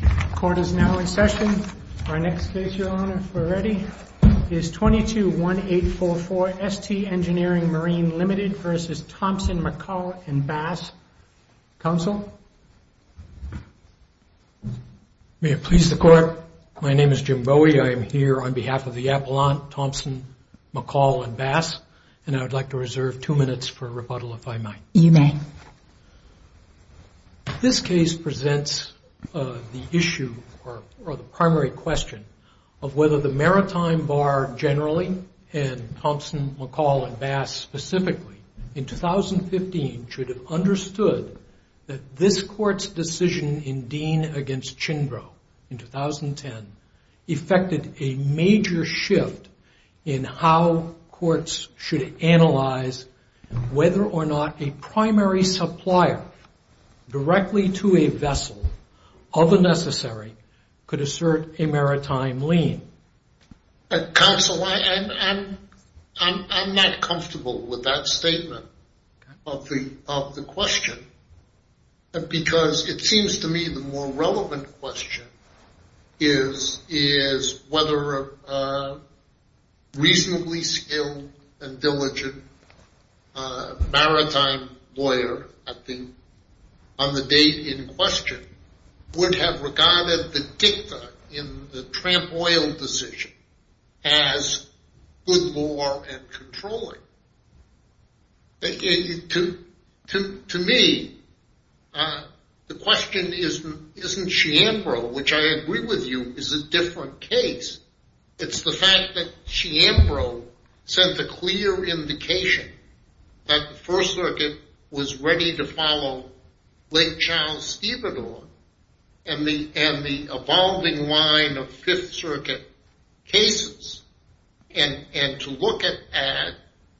The court is now in session. Our next case, Your Honor, if we're ready, is 22-1844 ST Engineering Marine, Ltd. v. Thompson, MacColl & Bass. Counsel? May it please the court. My name is Jim Bowie. I am here on behalf of the Appellant, Thompson, MacColl & Bass, and I would like to reserve two minutes for rebuttal, if I might. You may. This case presents the issue, or the primary question, of whether the Maritime Bar, generally, and Thompson, MacColl & Bass, specifically, in 2015 should have understood that this Court's decision in Dean v. Chindrow, in 2010, affected a major shift in how or not a primary supplier, directly to a vessel, of the necessary, could assert a maritime lien. Counsel, I'm not comfortable with that statement of the question, because it seems to me the more relevant question is whether a more reasonably skilled and diligent maritime lawyer, I think, on the date in question, would have regarded the dicta in the Tramp Oil decision as good law and controlling. To me, the question isn't Chiambro, which I agree with you, is a different case It's the fact that Chiambro sent a clear indication that the First Circuit was ready to follow Lake Charles-Stevador and the evolving line of Fifth Circuit cases, and to look at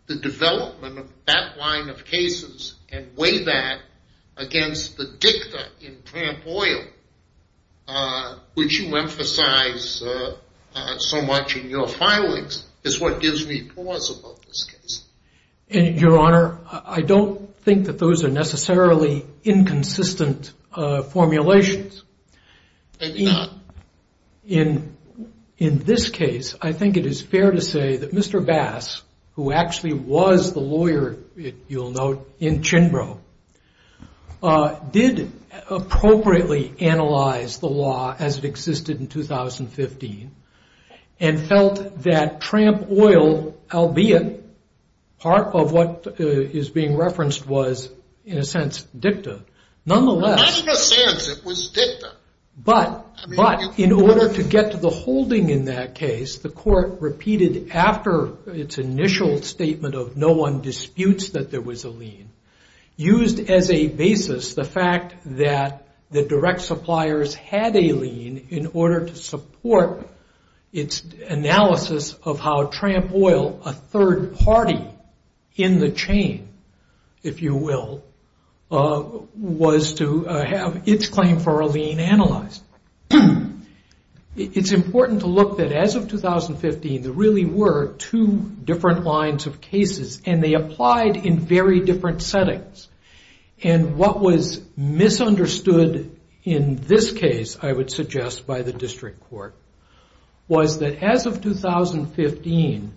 the development of that line of cases and weigh that against the dicta in Tramp Oil, which you so much in your filings, is what gives me pause about this case. Your Honor, I don't think that those are necessarily inconsistent formulations. Maybe not. In this case, I think it is fair to say that Mr. Bass, who actually was the lawyer, you'll note, in Chimbro, did appropriately analyze the law as it existed in 2015, and felt that Tramp Oil, albeit part of what is being referenced was, in a sense, dicta, nonetheless... Not in a sense, it was dicta. But in order to get to the holding in that case, the court repeated after its initial statement of no one disputes that there was a lien, used as a basis the fact that the direct suppliers had a lien in order to support its analysis of how Tramp Oil, a third party in the chain, if you will, was to have its claim for a lien analyzed. It's important to look that as of 2015, there really were two different lines of cases, and they applied in very different settings. And what was misunderstood in this case, I would suggest, by the district court, was that as of 2015,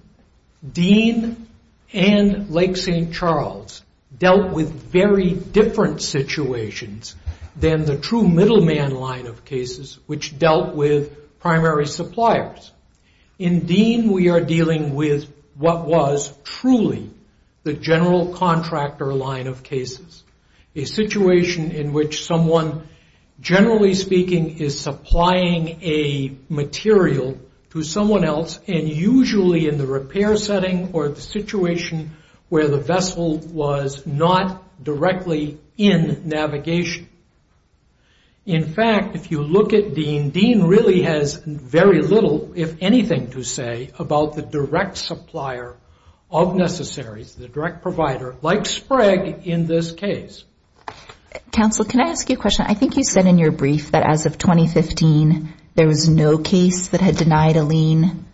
Dean and Lake St. Charles dealt with very different situations than the true middleman line of cases, which dealt with primary suppliers. In Dean, we are dealing with what was truly the general contractor line of cases, a situation in which someone, generally speaking, is supplying a material to someone else, and usually in the repair setting or the situation where the vessel was not directly in navigation. In fact, if you look at Dean, Dean really has very little, if anything, to say about the direct supplier of necessaries, the direct provider, like Sprague in this case. Counsel, can I ask you a question? I think you said in your brief that as of 2015, there was no case that had denied a lien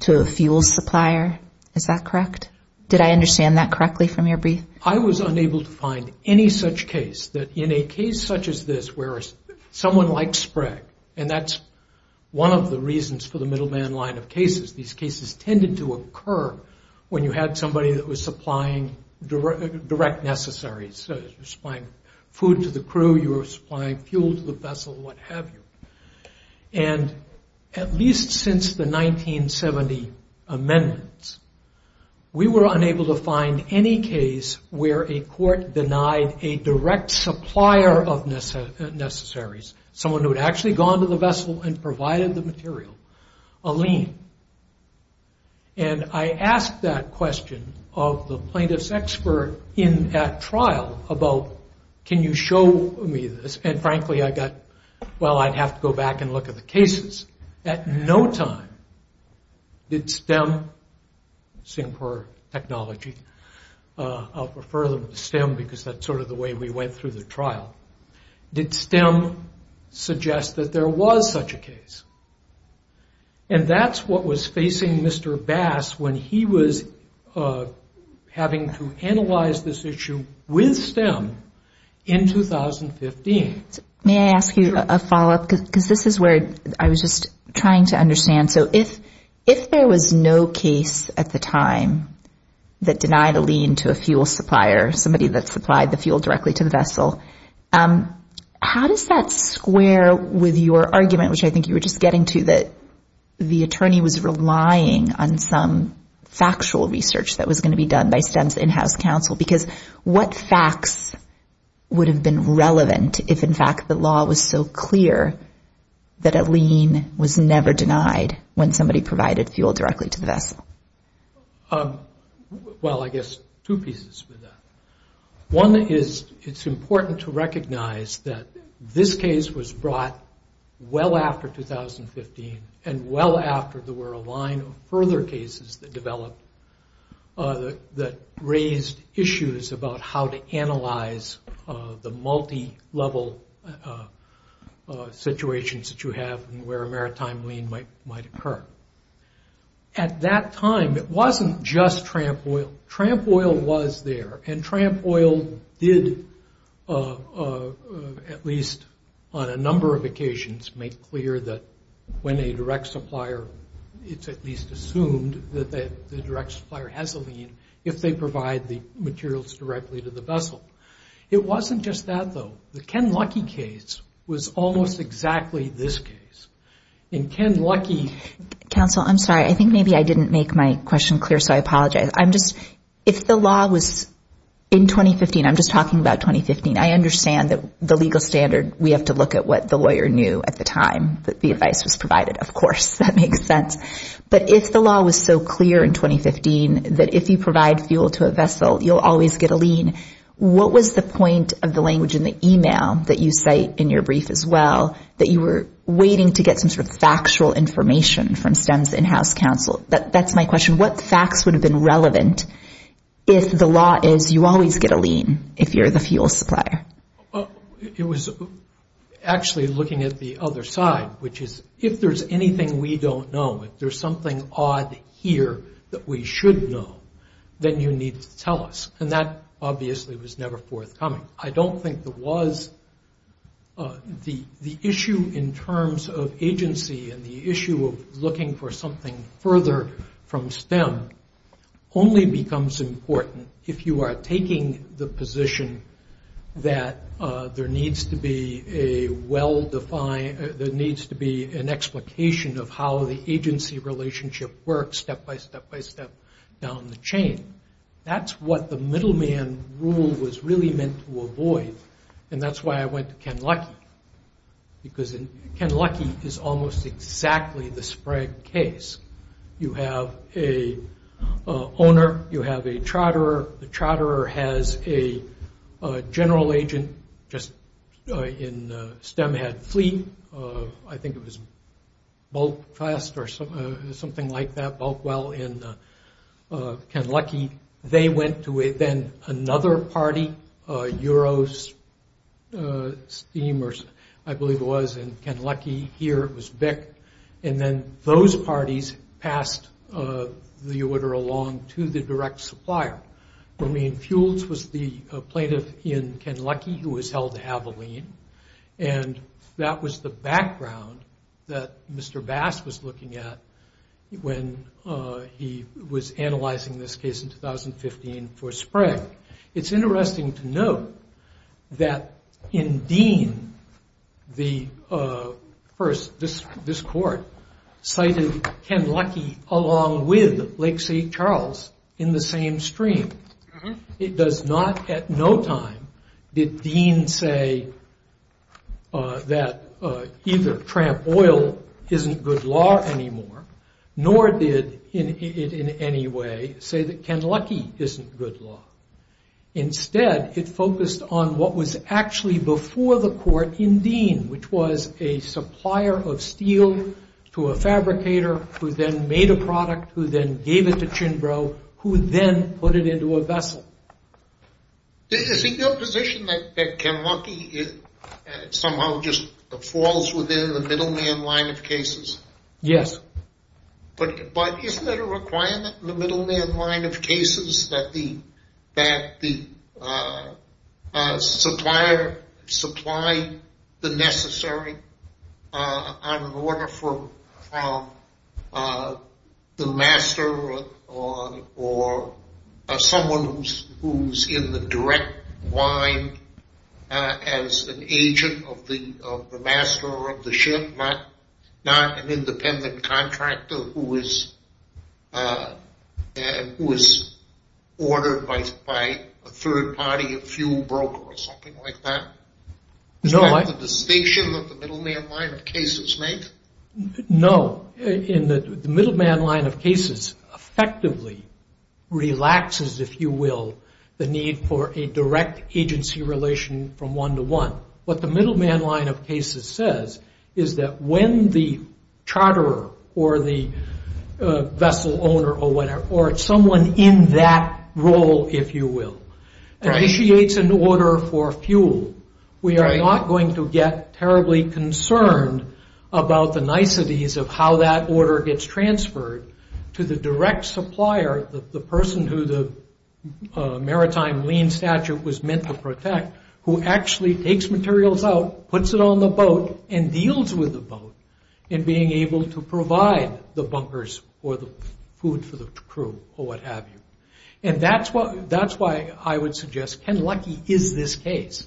to a fuel supplier. Is that correct? Did I understand that correctly from your brief? I was unable to find any such case that in a case such as this, where someone like Sprague, and that's one of the reasons for the middleman line of cases. These cases tended to occur when you had somebody that was supplying direct necessaries. You were supplying food to the crew, you were supplying fuel to the vessel, what have you. At least since the 1970 amendments, we were unable to find any case where a court denied a direct supplier of necessaries, someone who had actually gone to the vessel and provided the material, a lien. I asked that question of the plaintiff's expert in that trial about, can you show me this, and frankly, I got, well, I'd have to go back and look at the cases. At no time did STEM, STEM for technology, I'll refer them to STEM because that's sort of the way we went through the trial. Did STEM suggest that there was such a case? And that's what was facing Mr. Bass when he was having to analyze this issue with STEM in 2015. May I ask you a follow-up, because this is where I was just trying to understand. If there was no case at the time that denied a lien to a fuel supplier, somebody that supplied the fuel directly to the vessel, how does that square with your argument, which I think you were just getting to, that the attorney was relying on some factual research that was going to be done by STEM's in-house counsel? Because what facts would have been relevant if, in fact, the law was so clear that a lien was never denied when somebody provided fuel directly to the vessel? Well, I guess two pieces to that. One is it's important to recognize that this case was brought well after 2015 and well after there were a line of further cases that developed that raised issues about how to analyze the multi-level situations that you have where a maritime lien might occur. At that time, it wasn't just Tramp Oil. Tramp Oil was there. And Tramp Oil did, at least on a number of occasions, make clear that when a direct supplier, it's at least assumed that the direct supplier has a lien if they provide the materials directly to the vessel. It wasn't just that, though. The Ken Luckey case was almost exactly this case. And Ken Luckey... Counsel, I'm sorry. I think maybe I didn't make my question clear, so I apologize. If the law was in 2015, I'm just talking about 2015, I understand that the legal standard, we have to look at what the lawyer knew at the time that the advice was provided. Of course, that makes sense. But if the law was so clear in 2015 that if you provide fuel to a vessel, you'll always get a lien, what was the point of the language in the email that you cite in your brief as well that you were waiting to get some sort of factual information from STEM's in-house counsel? That's my question. What facts would have been relevant if the law is you always get a lien if you're the fuel supplier? It was actually looking at the other side, which is if there's anything we don't know, if there's something odd here that we should know, then you need to tell us. And that obviously was never forthcoming. I don't think the issue in terms of agency and the issue of looking for something further from STEM only becomes important if you are taking the position that there needs to be a well-defined, there needs to be an explication of how the agency relationship works step-by-step-by-step down the chain. That's what the middleman rule was really meant to avoid. And that's why I went to Ken Luckey, because Ken Luckey is almost exactly the Sprague case. You have an owner, you have a charterer. The charterer has a general agent, just in STEM had Fleet. I think it was Bulk Fest or something like that, Bulk Well, in Ken Luckey. They went to then another party, Eurosteam, I believe it was, in Ken Luckey. Here it was BIC. And then those parties passed the order along to the direct supplier. I mean, Fuels was the plaintiff in Ken Luckey who was held to have a lien. And that was the background that Mr. Bass was looking at when he was analyzing this case in 2015 for Sprague. It's interesting to note that in Dean, the first, this court, cited Ken Luckey along with Lake City Charles in the same stream. It does not, at no time, did Dean say that either Tramp Oil isn't good law anymore, nor did it in any way say that Ken Luckey isn't good law. Instead, it focused on what was actually before the court in Dean, which was a supplier of steel to a fabricator who then made a product, who then gave it to Chinbro, who then put it into a vessel. Is it your position that Ken Luckey somehow just falls within the middleman line of cases? Yes. But isn't it a requirement in the middleman line of cases that the supplier supply the necessary on order from the master or someone who's in the direct line as an agent of the master of the ship, not an independent contractor who is ordered by a third party, a fuel broker, or something like that? Is that the distinction that the middleman line of cases make? No. The middleman line of cases effectively relaxes, if you will, the need for a direct agency relation from one to one. What the middleman line of cases says is that when the charterer or the vessel owner or someone in that role, if you will, initiates an order for fuel, we are not going to get terribly concerned about the niceties of how that order gets transferred to the direct supplier, the person who the maritime lien statute was meant to protect, who actually takes materials out, puts it on the boat, and deals with the boat in being able to provide the bunkers or the food for the crew or what have you. And that's why I would suggest Ken Luckey is this case.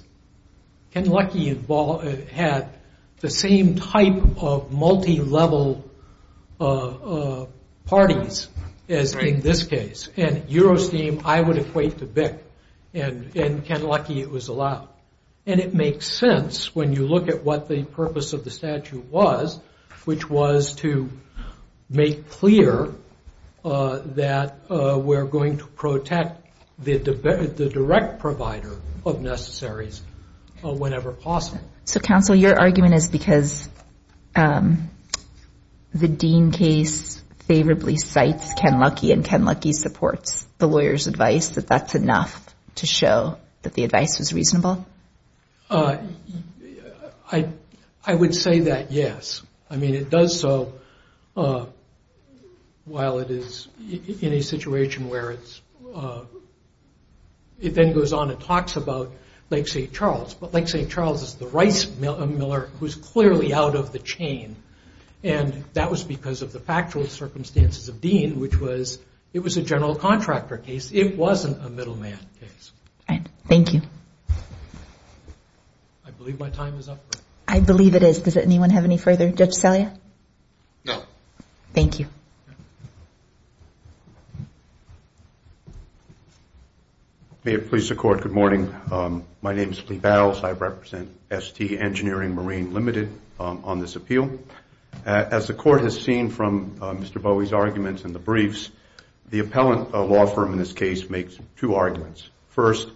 Ken Luckey had the same type of multi-level parties as in this case. And Eurosteam, I would equate to BIC, and Ken Luckey, it was allowed. And it makes sense when you look at what the purpose of the statute was, which was to make clear that we're going to protect the direct provider of necessaries whenever possible. So, counsel, your argument is because the Dean case favorably cites Ken Luckey and Ken Luckey supports the lawyer's advice, that that's enough to show that the advice was reasonable? I would say that, yes. I mean, it does so while it is in a situation where it then goes on and talks about Lake St. Charles. But Lake St. Charles is the rice miller who is clearly out of the chain, and that was because of the factual circumstances of Dean, which was it was a general contractor case. It wasn't a middleman case. Thank you. I believe my time is up. I believe it is. Does anyone have any further? Judge Salia? No. Thank you. May it please the Court, good morning. My name is Lee Bowles. I represent ST Engineering Marine Limited on this appeal. As the Court has seen from Mr. Bowie's arguments in the briefs, the appellant law firm in this case makes two arguments. First,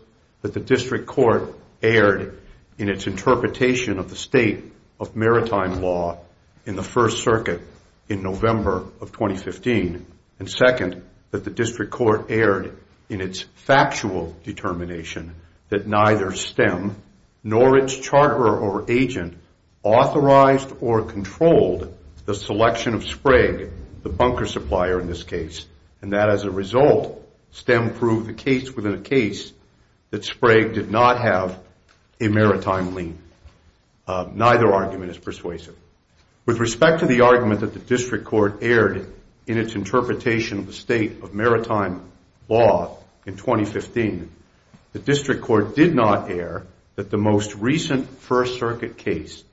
that the district court erred in its interpretation of the state of maritime law in the First Circuit in November of 2015, and second, that the district court erred in its factual determination that neither STEM nor its charter or agent authorized or controlled the selection of Sprague, the bunker supplier in this case, and that as a result STEM proved the case within a case that Sprague did not have a maritime lien. Neither argument is persuasive. With respect to the argument that the district court erred in its interpretation of the state of maritime law in 2015, the district court did not err that the most recent First Circuit case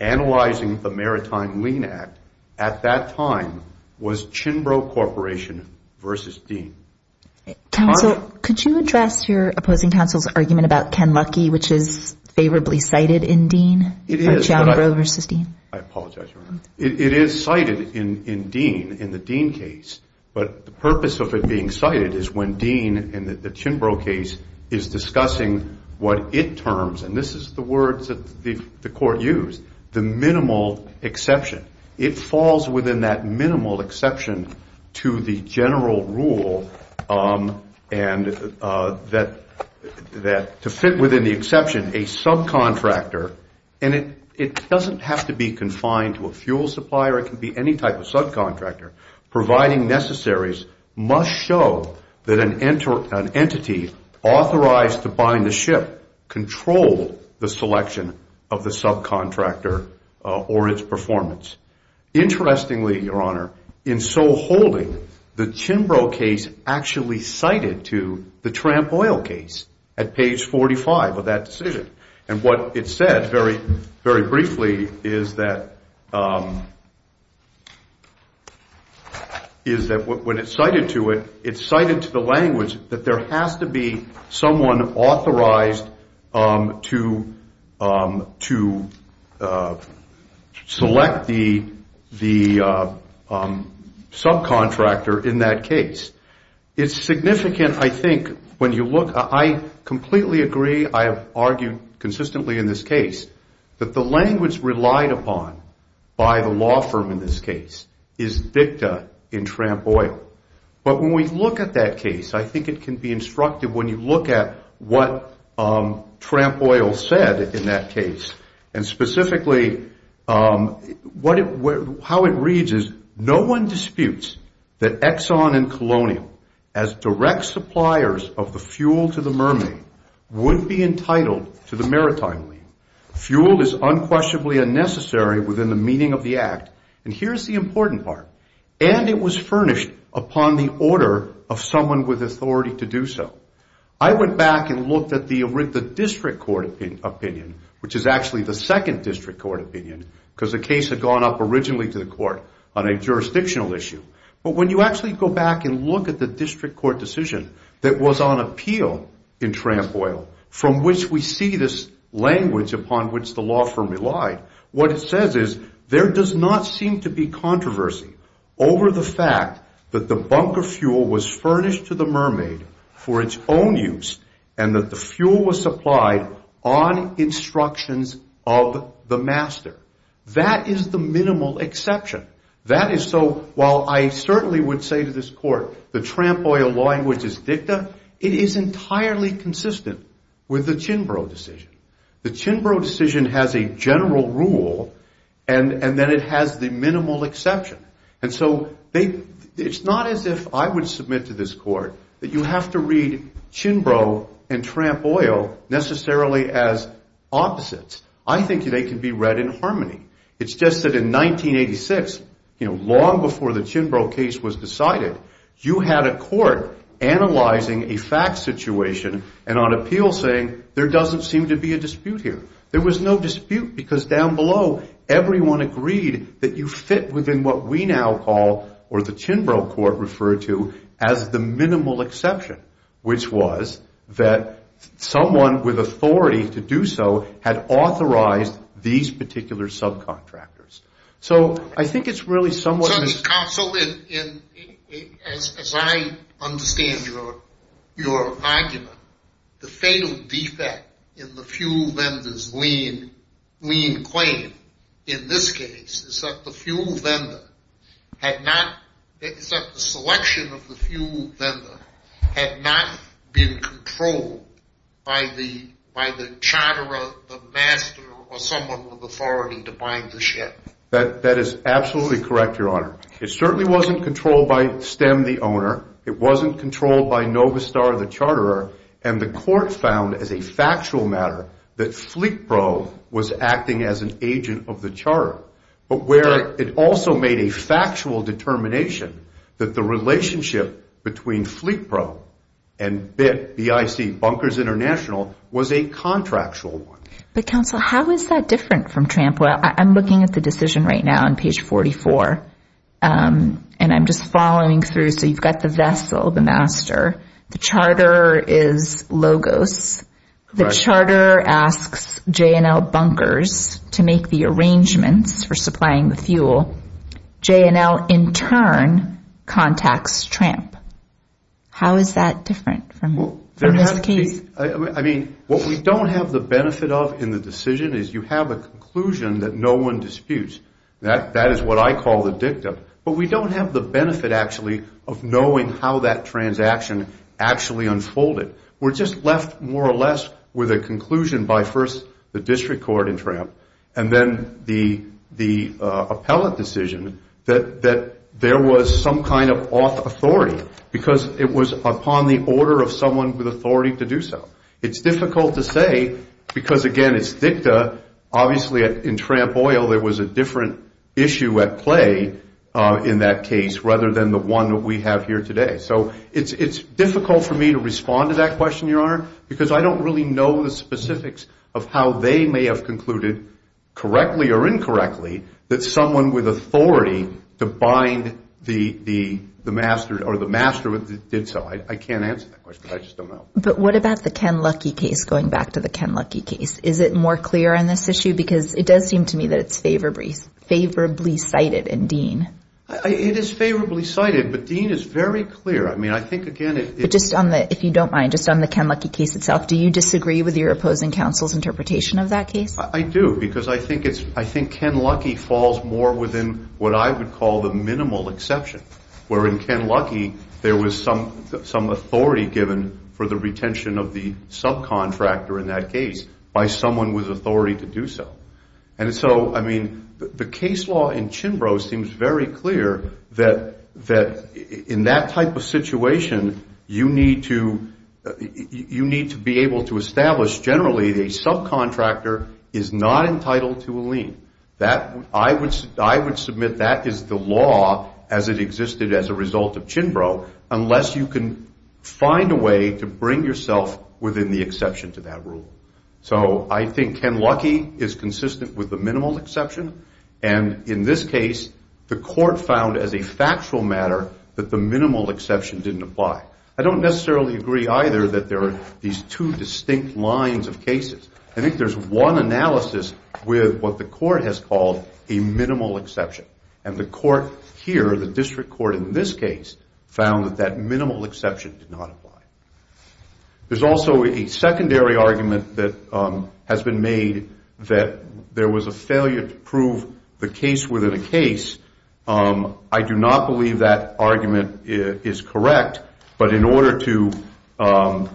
analyzing the Maritime Lien Act at that time was Chinbro Corporation v. Dean. Counsel, could you address your opposing counsel's argument about Ken Luckey, which is favorably cited in Dean? It is, but I apologize, Your Honor. It is cited in Dean, in the Dean case, but the purpose of it being cited is when Dean in the Chinbro case is discussing what it terms, and this is the words that the court used, the minimal exception. It falls within that minimal exception to the general rule and to fit within the exception a subcontractor, and it doesn't have to be confined to a fuel supplier. It can be any type of subcontractor. Providing necessaries must show that an entity authorized to bind a ship controlled the selection of the subcontractor or its performance. Interestingly, Your Honor, in so holding, the Chinbro case actually cited to the Tramp Oil case at page 45 of that decision, and what it said very briefly is that when it's cited to it, it's cited to the language that there has to be someone authorized to select the subcontractor in that case. It's significant, I think, when you look. I completely agree. I have argued consistently in this case that the language relied upon by the law firm in this case is dicta in Tramp Oil, but when we look at that case, I think it can be instructive when you look at what Tramp Oil said in that case, and specifically how it reads is, No one disputes that Exxon and Colonial, as direct suppliers of the fuel to the mermaid, would be entitled to the maritime lien. Fuel is unquestionably unnecessary within the meaning of the act, and here's the important part, and it was furnished upon the order of someone with authority to do so. I went back and looked at the district court opinion, which is actually the second district court opinion, because the case had gone up originally to the court on a jurisdictional issue, but when you actually go back and look at the district court decision that was on appeal in Tramp Oil, from which we see this language upon which the law firm relied, what it says is there does not seem to be controversy over the fact that the bunker fuel was furnished to the mermaid for its own use and that the fuel was supplied on instructions of the master. That is the minimal exception. That is so, while I certainly would say to this court the Tramp Oil law language is dicta, it is entirely consistent with the Chinbro decision. The Chinbro decision has a general rule, and then it has the minimal exception, and so it's not as if I would submit to this court that you have to read Chinbro and Tramp Oil necessarily as opposites. I think they can be read in harmony. It's just that in 1986, you know, long before the Chinbro case was decided, you had a court analyzing a fact situation and on appeal saying there doesn't seem to be a dispute here. There was no dispute because down below everyone agreed that you fit within what we now call or the Chinbro court referred to as the minimal exception, which was that someone with authority to do so had authorized these particular subcontractors. So I think it's really somewhat of a... So, counsel, as I understand your argument, the fatal defect in the fuel vendor's lien claim in this case is that the fuel vendor had not... is that the selection of the fuel vendor had not been controlled by the charterer, the master, or someone with authority to buy the ship. That is absolutely correct, Your Honor. It certainly wasn't controlled by Stem, the owner. It wasn't controlled by Novistar, the charterer, and the court found as a factual matter that FleetPro was acting as an agent of the charterer, but where it also made a factual determination that the relationship between FleetPro and BIC, Bunkers International, was a contractual one. But, counsel, how is that different from Tramp? Well, I'm looking at the decision right now on page 44, and I'm just following through. So you've got the vessel, the master. The charterer is Logos. The charterer asks J&L Bunkers to make the arrangements for supplying the fuel. J&L, in turn, contacts Tramp. How is that different from this case? I mean, what we don't have the benefit of in the decision is you have a conclusion that no one disputes. That is what I call the dictum. But we don't have the benefit, actually, of knowing how that transaction actually unfolded. We're just left, more or less, with a conclusion by first the district court in Tramp and then the appellate decision that there was some kind of authority because it was upon the order of someone with authority to do so. It's difficult to say because, again, it's dicta. Obviously, in Tramp Oil, there was a different issue at play in that case rather than the one that we have here today. So it's difficult for me to respond to that question, Your Honor, because I don't really know the specifics of how they may have concluded, correctly or incorrectly, that someone with authority to bind the master did so. I can't answer that question. I just don't know. But what about the Ken Luckey case, going back to the Ken Luckey case? Is it more clear on this issue? Because it does seem to me that it's favorably cited in Dean. It is favorably cited, but Dean is very clear. I mean, I think, again, it's... But just on the, if you don't mind, just on the Ken Luckey case itself, do you disagree with your opposing counsel's interpretation of that case? I do because I think it's, I think Ken Luckey falls more within what I would call the minimal exception, where in Ken Luckey, there was some authority given for the retention of the subcontractor in that case by someone with authority to do so. And so, I mean, the case law in Chimbrow seems very clear that in that type of situation, you need to be able to establish, generally, a subcontractor is not entitled to a lien. I would submit that is the law as it existed as a result of Chimbrow, unless you can find a way to bring yourself within the exception to that rule. So I think Ken Luckey is consistent with the minimal exception, and in this case, the court found as a factual matter that the minimal exception didn't apply. I don't necessarily agree either that there are these two distinct lines of cases. I think there's one analysis with what the court has called a minimal exception. And the court here, the district court in this case, found that that minimal exception did not apply. There's also a secondary argument that has been made that there was a failure to prove the case within a case. I do not believe that argument is correct, but in order to... And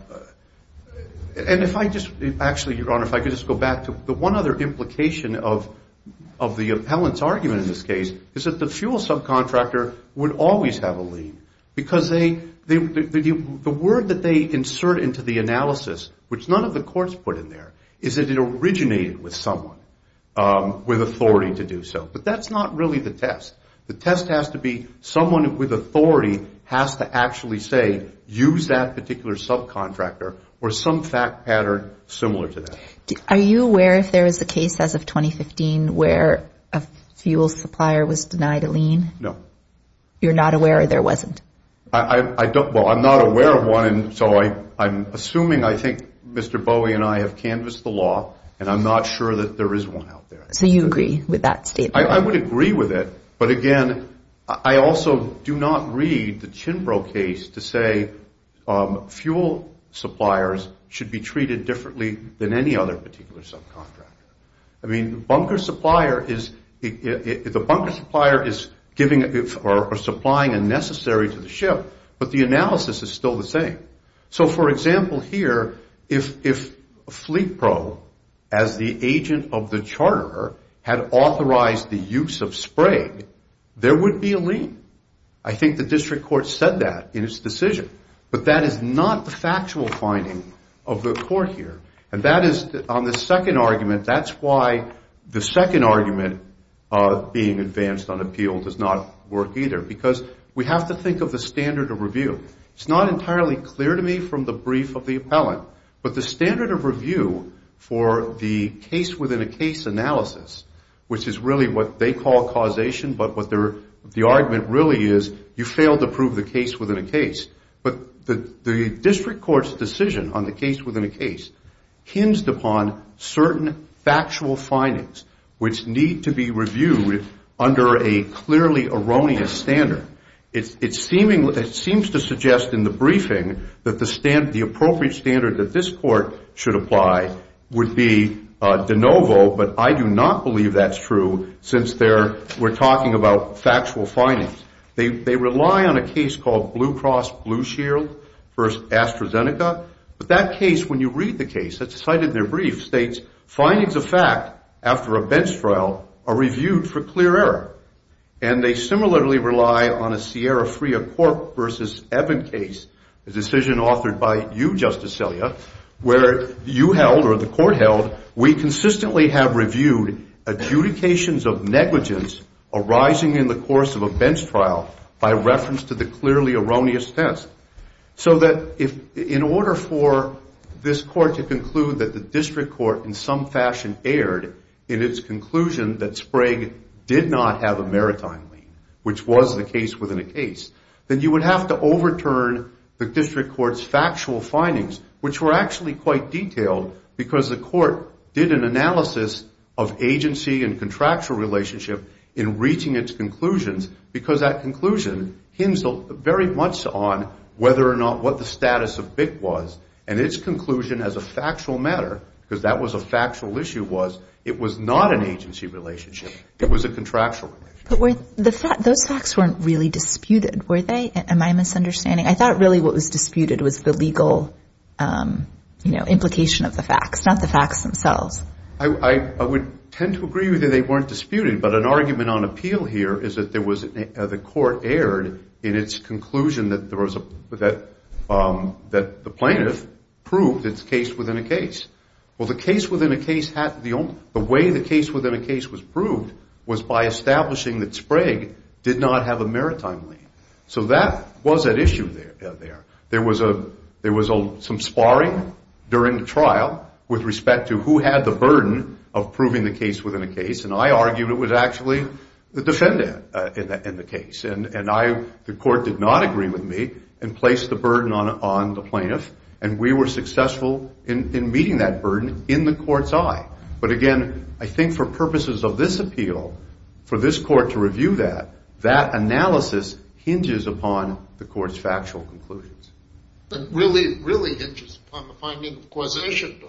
if I just... Actually, Your Honor, if I could just go back to the one other implication of the appellant's argument in this case is that the fuel subcontractor would always have a lien because the word that they insert into the analysis, which none of the courts put in there, is that it originated with someone with authority to do so. But that's not really the test. The test has to be someone with authority has to actually say, use that particular subcontractor or some fact pattern similar to that. Are you aware if there is a case as of 2015 where a fuel supplier was denied a lien? No. You're not aware or there wasn't? Well, I'm not aware of one, so I'm assuming I think Mr. Bowie and I have canvassed the law and I'm not sure that there is one out there. So you agree with that statement? I would agree with it, but again, I also do not read the Chinbro case to say fuel suppliers should be treated differently than any other particular subcontractor. I mean, the bunker supplier is giving or supplying a necessary to the ship, but the analysis is still the same. So for example here, if Fleet Pro as the agent of the charter had authorized the use of spray, there would be a lien. I think the district court said that in its decision, but that is not the factual finding of the court here. And that is on the second argument, that's why the second argument being advanced on appeal does not work either, because we have to think of the standard of review. It's not entirely clear to me from the brief of the appellant, but the standard of review for the case-within-a-case analysis, which is really what they call causation, but what the argument really is, you failed to prove the case-within-a-case, but the district court's decision on the case-within-a-case hinged upon certain factual findings which need to be reviewed under a clearly erroneous standard. It seems to suggest in the briefing that the appropriate standard that this court should apply would be de novo, but I do not believe that's true since we're talking about factual findings. They rely on a case called Blue Cross Blue Shield v. AstraZeneca, but that case, when you read the case, it's cited in their brief, states, the findings of fact, after a bench trial, are reviewed for clear error, and they similarly rely on a Sierra Fria Cork v. Evan case, a decision authored by you, Justice Selya, where you held, or the court held, we consistently have reviewed adjudications of negligence arising in the course of a bench trial by reference to the clearly erroneous test, so that in order for this court to conclude that the district court in some fashion erred in its conclusion that Sprague did not have a maritime lien, which was the case within a case, then you would have to overturn the district court's factual findings, which were actually quite detailed because the court did an analysis of agency and contractual relationship in reaching its conclusions because that conclusion hints very much on whether or not what the status of BIC was, and its conclusion as a factual matter, because that was a factual issue, was it was not an agency relationship. It was a contractual relationship. But those facts weren't really disputed, were they? Am I misunderstanding? I thought really what was disputed was the legal implication of the facts, not the facts themselves. I would tend to agree with you they weren't disputed, but an argument on appeal here is that the court erred in its conclusion that the plaintiff proved its case within a case. Well, the case within a case, the way the case within a case was proved was by establishing that Sprague did not have a maritime lien. So that was at issue there. There was some sparring during the trial with respect to who had the burden of proving the case within a case, and I argued it was actually the defendant in the case. And the court did not agree with me and placed the burden on the plaintiff, and we were successful in meeting that burden in the court's eye. But again, I think for purposes of this appeal, for this court to review that, that analysis hinges upon the court's factual conclusions. It really hinges upon the finding of causation,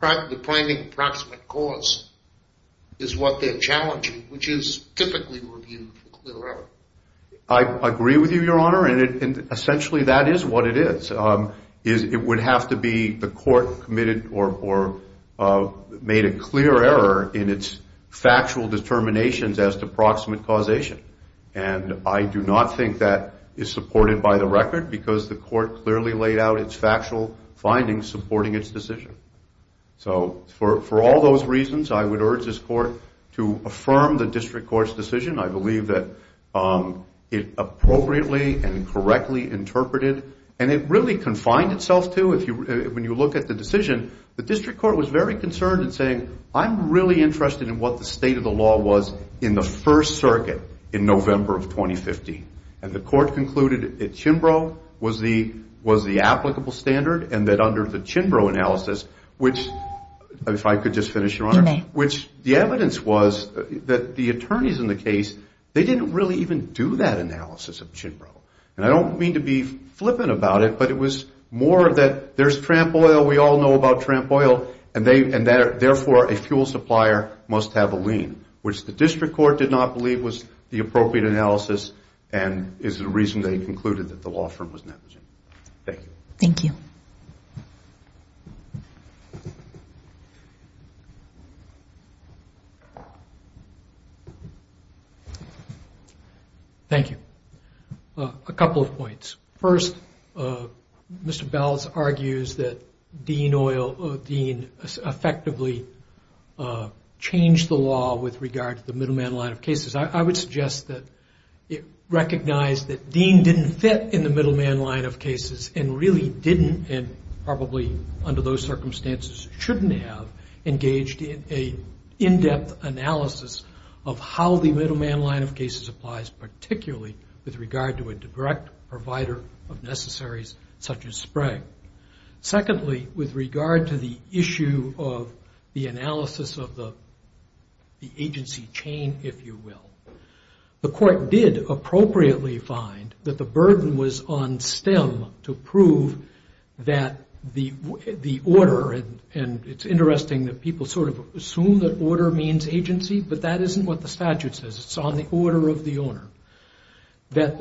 but the finding of proximate cause is what they're challenging, which is typically reviewed for clear error. I agree with you, Your Honor, and essentially that is what it is. It would have to be the court committed or made a clear error in its factual determinations as to proximate causation, and I do not think that is supported by the record because the court clearly laid out its factual findings supporting its decision. So for all those reasons, I would urge this court to affirm the district court's decision. I believe that it appropriately and correctly interpreted, and it really confined itself to, when you look at the decision, the district court was very concerned in saying, I'm really interested in what the state of the law was in the First Circuit in November of 2015. And the court concluded that Chimbrough was the applicable standard and that under the Chimbrough analysis, which, if I could just finish, Your Honor. You may. Which the evidence was that the attorneys in the case, they didn't really even do that analysis of Chimbrough. And I don't mean to be flippant about it, but it was more that there's tramp oil, we all know about tramp oil, and therefore a fuel supplier must have a lien, which the district court did not believe was the appropriate analysis and is the reason they concluded that the law firm was negligent. Thank you. Thank you. Thank you. Thank you. A couple of points. First, Mr. Belz argues that Dean effectively changed the law with regard to the middleman line of cases. I would suggest that it recognized that Dean didn't fit in the middleman line of cases and really didn't, and probably under those circumstances shouldn't have, engaged in an in-depth analysis of how the middleman line of cases applies, particularly with regard to a direct provider of necessaries such as spray. Secondly, with regard to the issue of the analysis of the agency chain, if you will, the court did appropriately find that the burden was on STEM to prove that the order, and it's interesting that people sort of assume that order means agency, but that isn't what the statute says. It's on the order of the owner, that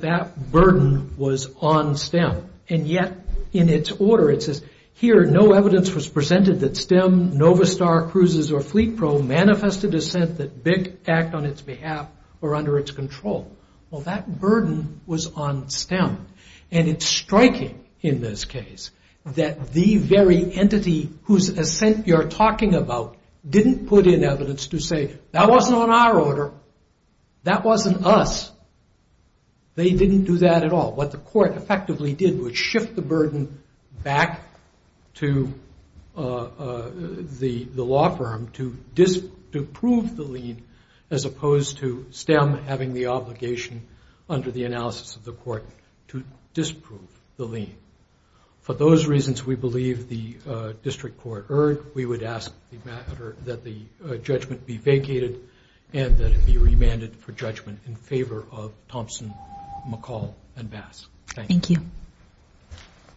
that burden was on STEM, and yet in its order it says, here no evidence was presented that STEM, Novastar, Cruises, or Fleet Pro manifested assent that BIC act on its behalf or under its control. Well, that burden was on STEM, and it's striking in this case that the very entity whose assent you're talking about didn't put in evidence to say, that wasn't on our order, that wasn't us. They didn't do that at all. What the court effectively did was shift the burden back to the law firm to prove the lien, as opposed to STEM having the obligation under the analysis of the court to disprove the lien. For those reasons we believe the district court erred. We would ask that the judgment be vacated and that it be remanded for judgment in favor of Thompson, McCall, and Bass. Thank you.